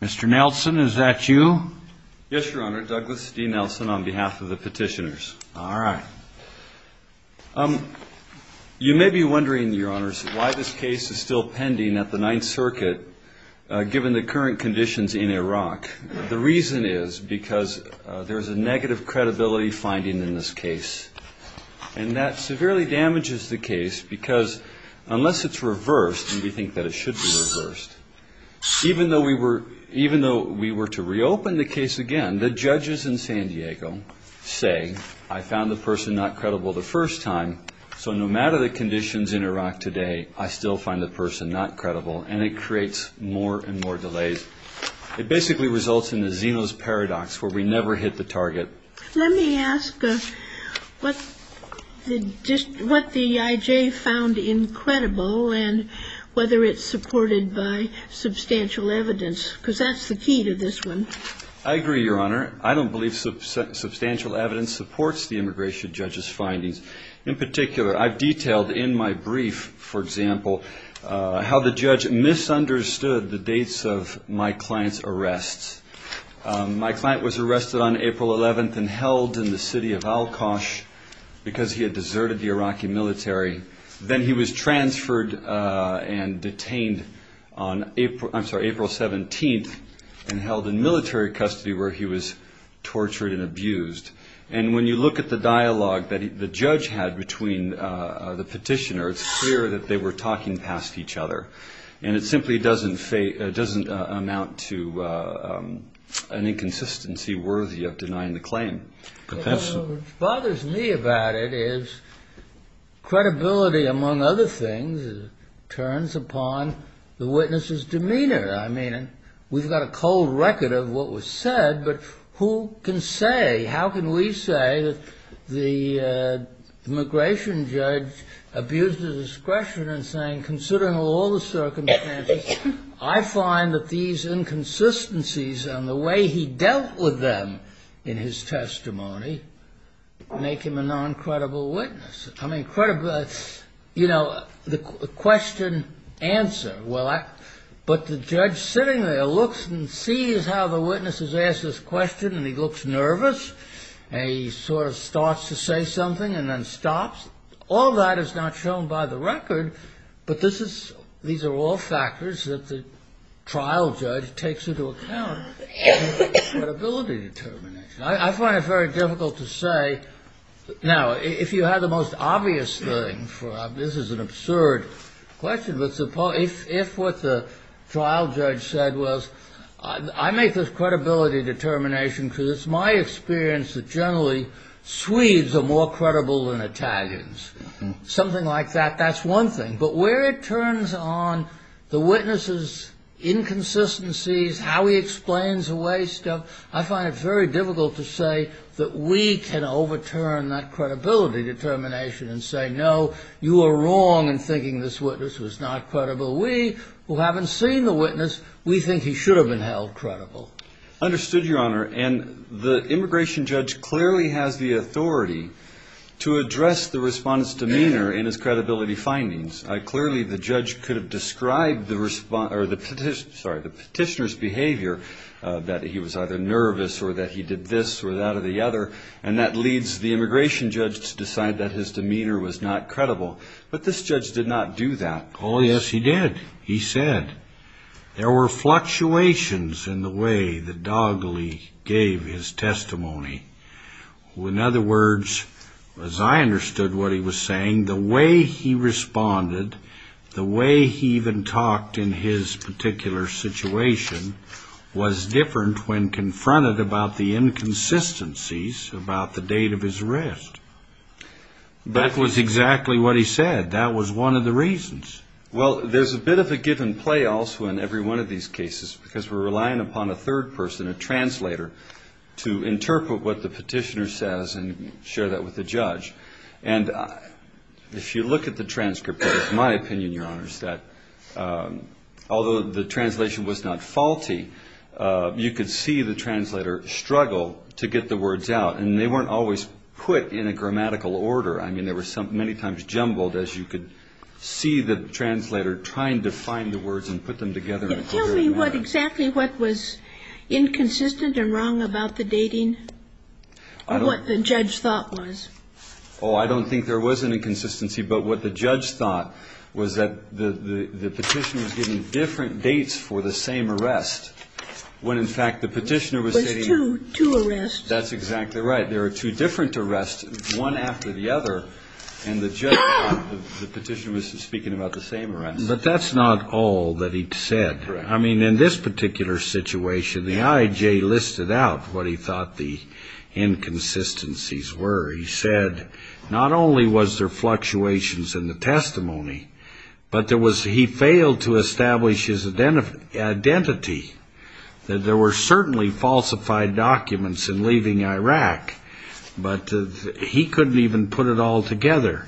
Mr. Nelson, is that you? Yes, Your Honor. Douglas D. Nelson on behalf of the petitioners. All right. You may be wondering, Your Honors, why this case is still pending at the Ninth Circuit given the current conditions in Iraq. The reason is because there is a negative credibility finding in this case. And that severely damages the case because unless it's even though we were to reopen the case again, the judges in San Diego say, I found the person not credible the first time, so no matter the conditions in Iraq today, I still find the person not credible. And it creates more and more delays. It basically results in the Zeno's Paradox where we never hit the target. Let me ask what the I.J. found incredible and whether it's supported by substantial evidence because that's the key to this one. I agree, Your Honor. I don't believe substantial evidence supports the immigration judge's findings. In particular, I've detailed in my brief, for example, how the judge misunderstood the dates of my client's arrests. My client was arrested on April 11th and held in the ward and detained on April 17th and held in military custody where he was tortured and abused. And when you look at the dialogue that the judge had between the petitioner, it's clear that they were talking past each other. And it simply doesn't amount to an inconsistency worthy of denying the claim. What bothers me about it is credibility, among other things, turns upon the witness's demeanor. I mean, we've got a cold record of what was said, but who can say, how can we say that the immigration judge abused his discretion in saying, considering all the circumstances, I find that these inconsistencies and the way he dealt with them in his testimony make him a non-credible witness. I mean, credible, you know, the question, answer. But the judge sitting there looks and sees how the witness has asked this question and he looks nervous and he sort of starts to say something and then stops. All that is not shown by the record, but these are all factors that the trial judge takes into account in his credibility determination. I find it very difficult to say. Now, if you have the most obvious thing, this is an absurd question, but suppose if what the trial judge said was, I make this credibility determination because it's my experience that generally Swedes are more credible than Italians. Something like that. That's one thing. But where it turns on the witness's inconsistencies, how he explains away stuff, I find it very difficult to say that we can overturn that credibility determination and say, no, you are wrong in thinking this witness was not credible. We who haven't seen the witness, we think he should have been held credible. Understood, Your Honor. And the immigration judge clearly has the authority to address the respondent's demeanor in his credibility findings. Clearly the judge could have described the petitioner's behavior, that he was either nervous or that he did this or that or the other, and that leads the immigration judge to decide that his demeanor was not credible. But this judge did not do that. Oh, yes, he did. He said there were fluctuations in the way that Dogley gave his testimony. In other words, as I understood what he was saying, the way he responded, the way he even talked in his particular situation was different when confronted about the inconsistencies about the date of his arrest. That was exactly what he said. That was one of the reasons. Well, there's a bit of a give and play also in every one of these cases because we're going to have a third person, a translator, to interpret what the petitioner says and share that with the judge. And if you look at the transcript, it's my opinion, Your Honors, that although the translation was not faulty, you could see the translator struggle to get the words out, and they weren't always put in a grammatical order. I mean, there were many times jumbled as you could see the translator trying to find the words and put them together in a clear manner. Tell me exactly what was inconsistent and wrong about the dating, or what the judge thought was. Oh, I don't think there was an inconsistency, but what the judge thought was that the petitioner was giving different dates for the same arrest when, in fact, the petitioner was stating There were two arrests. That's exactly right. There were two different arrests, one after the other, and the petitioner was speaking about the same arrests. But that's not all that he said. I mean, in this particular situation, the IJ listed out what he thought the inconsistencies were. He said not only was there fluctuations in the testimony, but he failed to establish his identity. There were certainly falsified documents in leaving Iraq, but he couldn't even put it all together.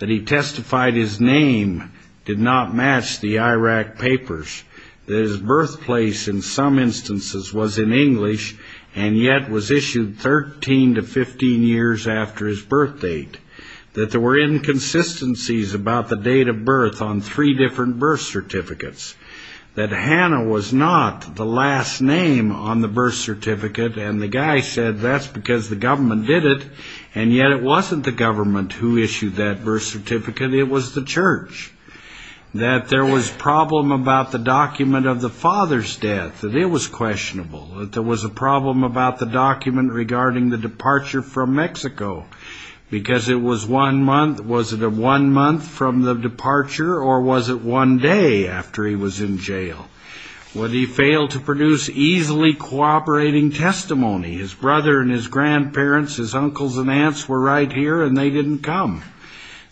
That he testified his name did not match the Iraq papers, that his birthplace in some instances was in English, and yet was issued 13 to 15 years after his birth date, that there were inconsistencies about the date of birth on three different birth certificates, that Hannah was not the last name on the birth certificate, and the guy said that's because the government did it, and yet it wasn't the government who issued that birth certificate, it was the church, that there was problem about the document of the father's death, that it was questionable, that there was a problem about the document regarding the departure from Mexico, because it was one month, was it one month from the departure, or was it one day after he was in jail? Would he fail to produce easily cooperating testimony? His brother and his grandparents his uncles and aunts were right here and they didn't come.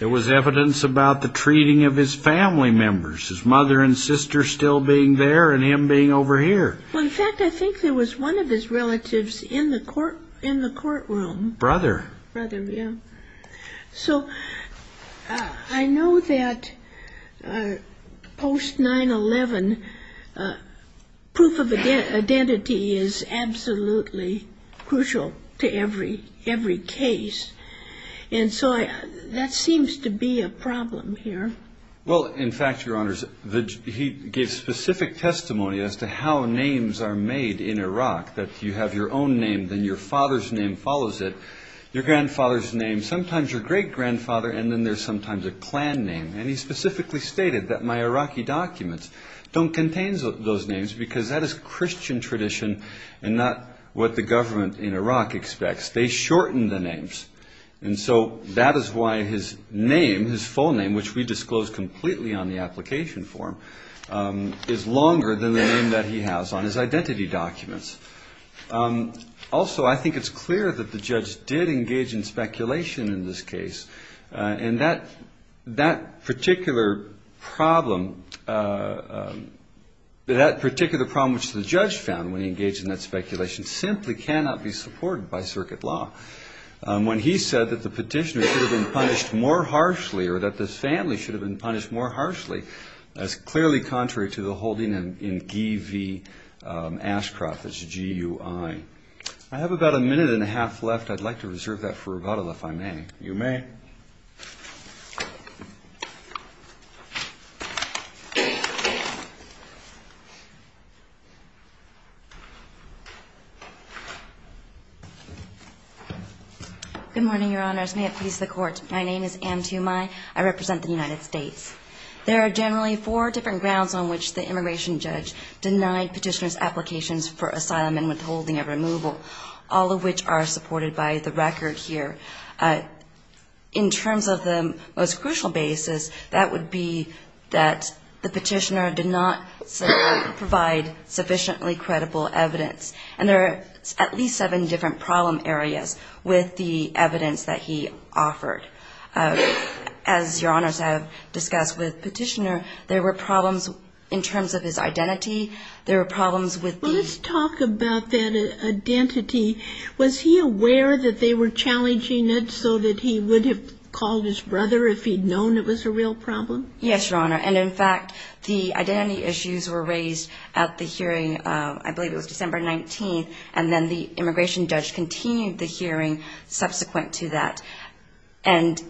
There was evidence about the treating of his family members, his mother and sister still being there, and him being over here. Well in fact I think there was one of his relatives in the courtroom, so I know that post 9-11, proof of identity is absolutely crucial to every person. Every case, and so that seems to be a problem here. Well in fact your honors, he gave specific testimony as to how names are made in Iraq, that you have your own name, then your father's name follows it, your grandfather's name, sometimes your great grandfather, and then there's sometimes a clan name, and he specifically stated that my Iraqi documents don't contain those names because that is Christian tradition and not what the government in Iraq expects. They shorten the names, and so that is why his name, his full name, which we disclosed completely on the application form, is longer than the name that he has on his identity documents. Also I think it's clear that the judge did engage in speculation in this case, and that particular problem, that particular problem which the judge found when he engaged in that speculation simply cannot be supported by circuit law. When he said that the petitioner should have been punished more harshly, or that this family should have been punished more harshly, that's clearly contrary to the holding in G.U.I. Ashcroft, that's G-U-I. I have about a minute and a half left, I'd like to reserve that for rebuttal if I may. You may. Good morning, Your Honors. May it please the Court. My name is Ann Tumai. I represent the United States. There are generally four different grounds on which the immigration judge denied petitioner's applications for asylum and withholding of removal, all of which are supported by the record here. In terms of the most crucial basis, that would be that the petitioner did not provide sufficiently credible evidence. And there are at least seven different problem areas with the evidence that he offered. As Your Honors have discussed with the petitioner, there were problems in terms of his identity, there were problems with the... That they were challenging it so that he would have called his brother if he'd known it was a real problem? Yes, Your Honor. And in fact, the identity issues were raised at the hearing, I believe it was December 19th, and then the immigration judge continued the hearing subsequent to that. And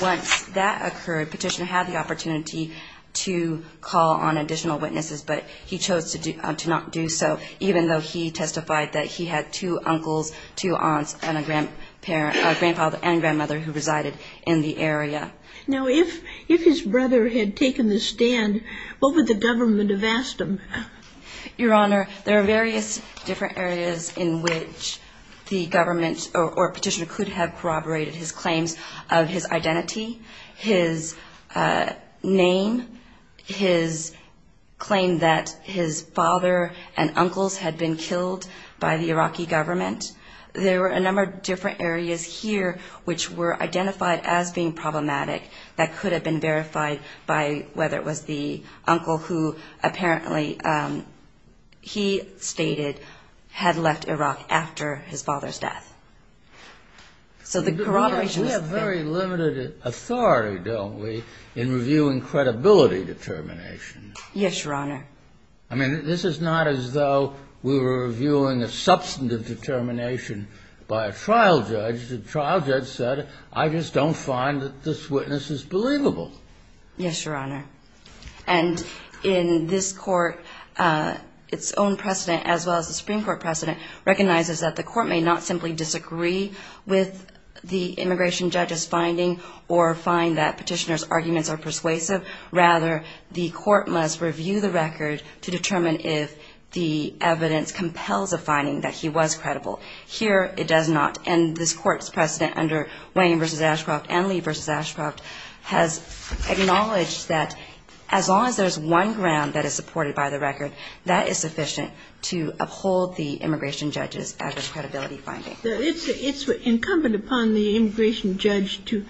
once that occurred, petitioner had the opportunity to call on additional witnesses, but he chose to do, to not do so, even though he testified that he had two uncles, two aunts, and a grandfather and grandmother who resided in the area. Now, if his brother had taken the stand, what would the government have asked him? Your Honor, there are various different areas in which the government or petitioner could have corroborated his claims of his identity, his name, his claim that his father and uncles had been killed by the Iraqi government. There were a number of different areas here which were identified as being problematic that could have been verified by whether it was the uncle who apparently, he stated, had left Iraq after his father's death. So the corroboration was... We have very limited authority, don't we, in reviewing credibility determinations? Yes, Your Honor. I mean, this is not as though we were reviewing a substantive determination by a trial judge. The trial judge said, I just don't find that this witness is believable. Yes, Your Honor. And in this court, its own precedent as well as the Supreme Court precedent recognizes that the court may not simply disagree with the immigration judge's finding or find that petitioner's arguments are persuasive. Rather, the court must review the record to determine if the evidence compels a finding that he was credible. Here, it does not. And this court's precedent under Wayne v. Ashcroft and Lee v. Ashcroft has acknowledged that as long as there's one ground that is supported by the record, that is sufficient to uphold the immigration judge's adverse credibility finding. It's incumbent upon the immigration judge to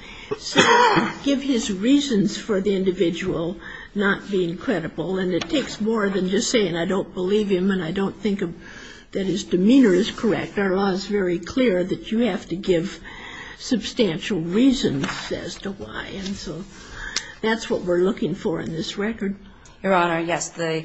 give his reasons for the individual not being credible. And it takes more than just saying, I don't believe him and I don't think that his demeanor is correct. Our law is very clear that you have to give substantial reasons as to why. And so that's what we're looking for in this record. Your Honor, yes, the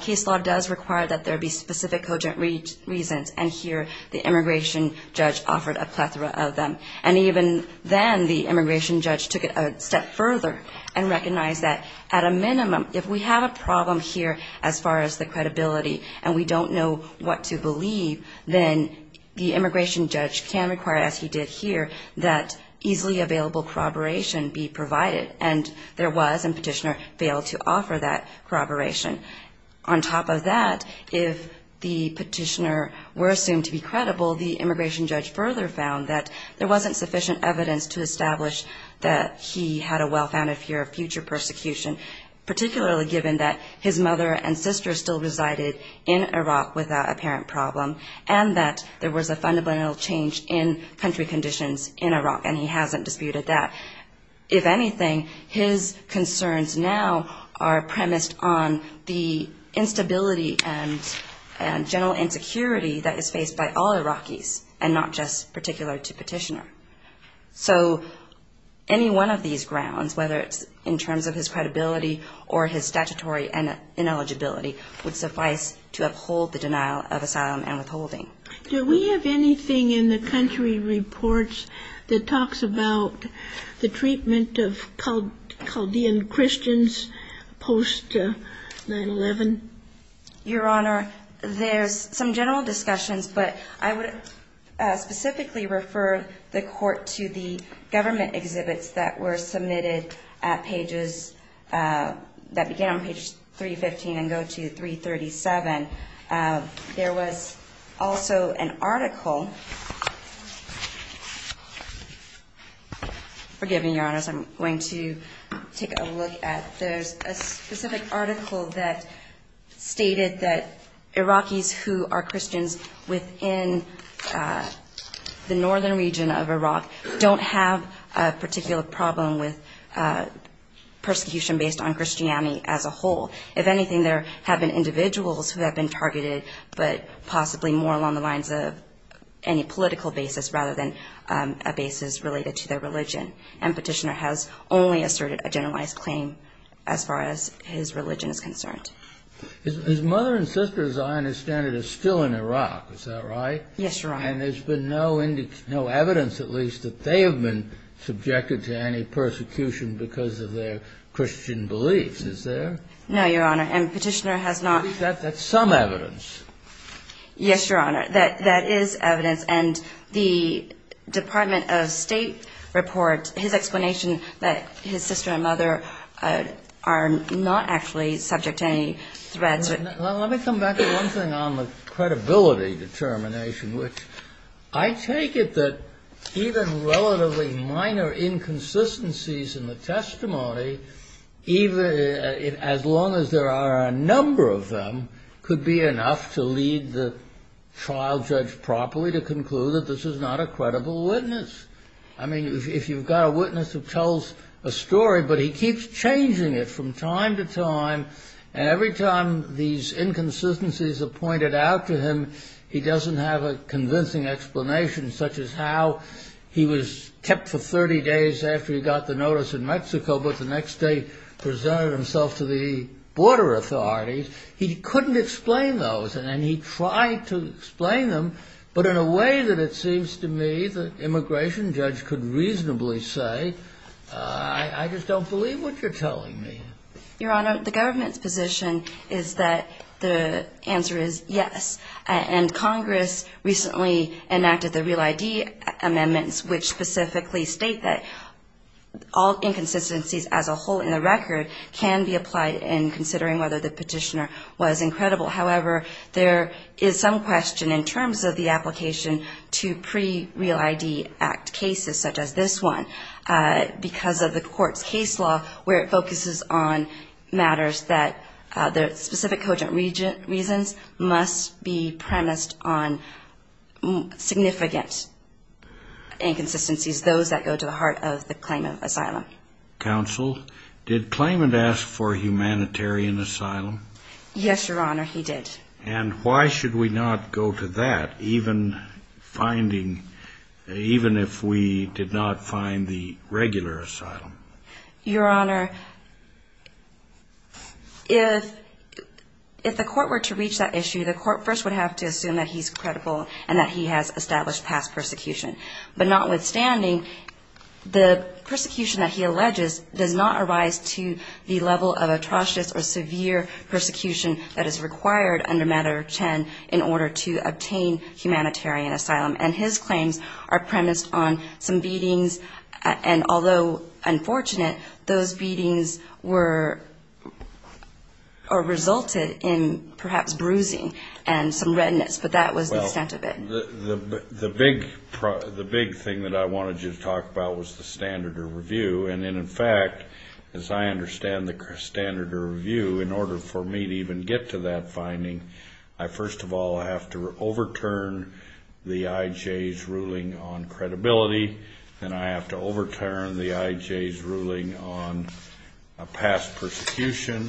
case law does require that there be specific cogent reasons. And here, the immigration judge offered a plethora of them. And even then, the immigration judge took it a step further and recognized that at a minimum, if we have a problem here as far as the credibility and we don't know what to believe, then the immigration judge can require, as he did here, that easily available corroboration be provided. And there was and petitioner failed to offer that corroboration. On top of that, if the petitioner were assumed to be credible, the immigration judge further found that there wasn't sufficient evidence to establish that he had a well-founded fear of future persecution, particularly given that his mother and sister still resided in Iraq without a parent problem and that there was a fundamental change in country conditions in Iraq. And he hasn't disputed that. If anything, his concerns now are premised on the instability and general insecurity that is faced by all Iraqis and not just particular to petitioner. So any one of these grounds, whether it's in terms of his credibility or his statutory ineligibility, would suffice to uphold the denial of asylum and withholding. Do we have anything in the country reports that talks about the treatment of Chaldean Christians post 9-11? Your Honor, there's some general discussions, but I would specifically refer the Court to the government exhibits that were submitted at pages, that began on page 315 and go to 337. There was also an article. Forgive me, Your Honor, as I'm going to take a look at those, a specific article that stated that Iraqis who are Christians within the northern region of Iraq don't have a particular problem with persecution based on Christianity as a whole. If anything, there have been individuals who have been targeted, but possibly more along the lines of any political basis rather than a basis related to their religion. And as far as his religion is concerned. His mother and sister, as I understand it, are still in Iraq. Is that right? Yes, Your Honor. And there's been no evidence, at least, that they have been subjected to any persecution because of their Christian beliefs. Is there? No, Your Honor. And Petitioner has not ---- At least that's some evidence. Yes, Your Honor. That is evidence. And the Department of State report, his explanation that his sister and mother are not actually subject to any threats. Well, let me come back to one thing on the credibility determination, which I take it that even relatively minor inconsistencies in the testimony, as long as there are a number of them, could be enough to lead the trial judge properly to conclude that this is not a credible witness. I mean, if you've got a witness who tells a story, but he keeps changing it from time to time, and every time these inconsistencies are pointed out to him, he doesn't have a convincing explanation, such as how he was kept for 30 days after he got the notice in Mexico, but the next day presented himself to the border authorities. He couldn't explain those, and he tried to explain them, but in a way that it seems to me the immigration judge could reasonably say, I just don't believe what you're telling me. Your Honor, the government's position is that the answer is yes. And Congress recently enacted the Real ID amendments, which specifically state that all inconsistencies as a whole in the record can be applied in considering whether the Petitioner was incredible. However, there is some question in terms of the application to pre-Real ID Act cases, such as this one, because of the court's case law, where it focuses on matters that, for specific cogent reasons, must be premised on significant inconsistencies, those that go to the heart of the claim of asylum. Counsel, did Klayman ask for humanitarian asylum? Yes, Your Honor, he did. And why should we not go to that, even finding, even if we did not find the regular asylum? Your Honor, if the court were to reach that issue, the court first would have to assume that he's credible and that he has established past persecution. But notwithstanding, the persecution that he alleges does not arise to the level of atrocious or severe persecution that is required under Matador Chen in order to obtain humanitarian asylum. And his claims are premised on some beatings, and although unfortunate, those beatings were, or resulted in perhaps bruising and some redness, but that was the extent of it. The big thing that I wanted you to talk about was the standard of review, and in fact, as I understand the standard of review, in order for me to even get to that finding, I first of all have to overturn the IJ's ruling on credibility, then I have to overturn the IJ's ruling on past persecution,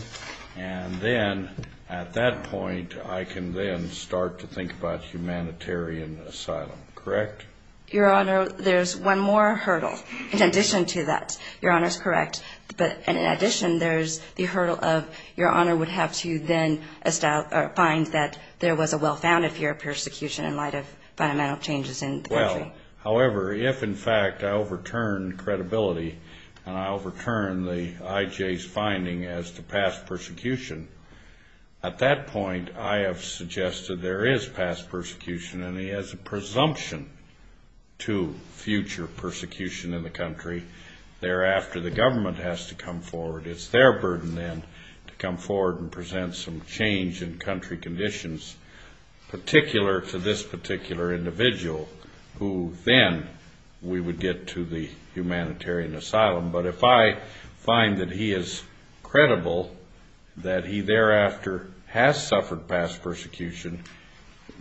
and then, at that point, I can then start to think about humanitarian asylum, correct? Your Honor, there's one more hurdle in addition to that. Your Honor's correct, but in addition, there's the hurdle of Your Honor would have to then find that there was a well-founded fear of persecution in light of the amount of changes in the country. Well, however, if, in fact, I overturn credibility and I overturn the IJ's finding as to past persecution, and he has a presumption to future persecution in the country, thereafter, the government has to come forward. It's their burden, then, to come forward and present some change in country conditions, particular to this particular individual, who then we would get to the humanitarian asylum, but if I find that he is credible, that he thereafter has suffered past persecution,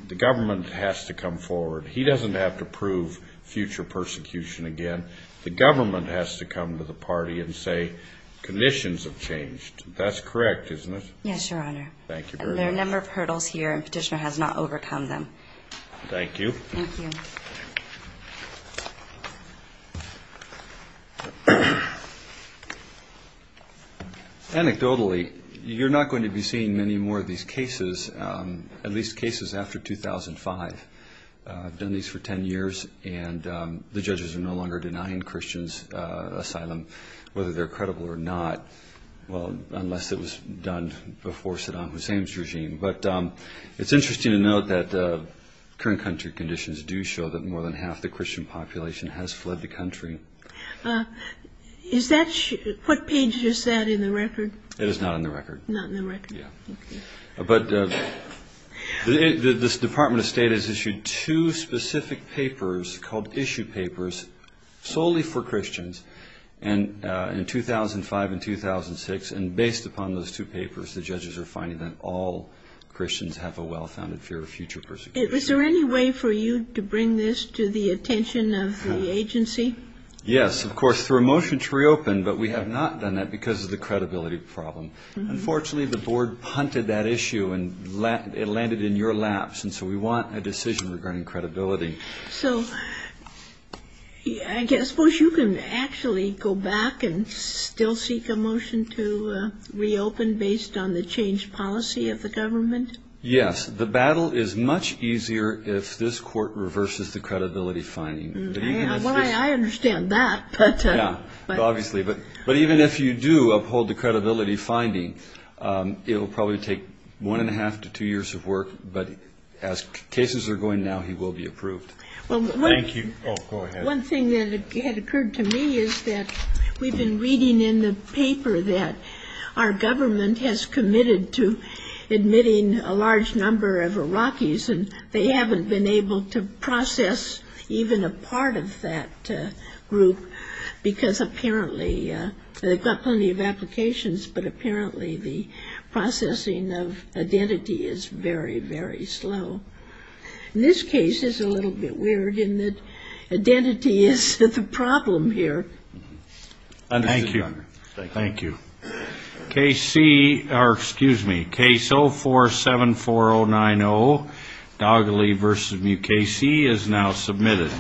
the government has to come forward. He doesn't have to prove future persecution again. The government has to come to the party and say, conditions have changed. That's correct, isn't it? Yes, Your Honor. Thank you very much. There are a number of hurdles here, and Petitioner has not overcome them. Thank you. Anecdotally, you're not going to be seeing many more of these cases, at least cases after 2005. I've done these for 10 years, and the judges are no longer denying Christians asylum whether they're credible or not, unless it was done before Saddam Hussein's regime, but it's interesting to note that current country conditions do show that more than half the Christian population has fled the country. What page is that in the record? It is not in the record. Not in the record. Yes. But this Department of State has issued two specific papers called issue papers, solely for Christians, in 2005 and 2006, and based upon those two papers, the judges are finding that all Christians have a well-founded fear of future persecution. Is there any way for you to bring this to the attention of the agency? Yes, of course, through a motion to reopen, but we have not done that because of the credibility problem. Unfortunately, the board punted that issue, and it landed in your laps, and so we want a decision regarding credibility. So I suppose you can actually go back and still seek a motion to reopen based on the changed policy of the government? Yes. The battle is much easier if this court reverses the credibility finding. Well, I understand that, but... Yes, obviously, but even if you do uphold the credibility finding, it will probably take one and a half to two years of work, but as cases are going now, he will be approved. One thing that had occurred to me is that we've been reading in the paper that our government has committed to admitting a large number of Iraqis, and they haven't been able to process even a part of that group because apparently they've got plenty of applications, but apparently the processing of identity is very, very slow. This case is a little bit weird in that identity is the problem here. Thank you. Thank you. Case C, or excuse me, Case 04-74090, Dogley v. Mukasey, is now submitted.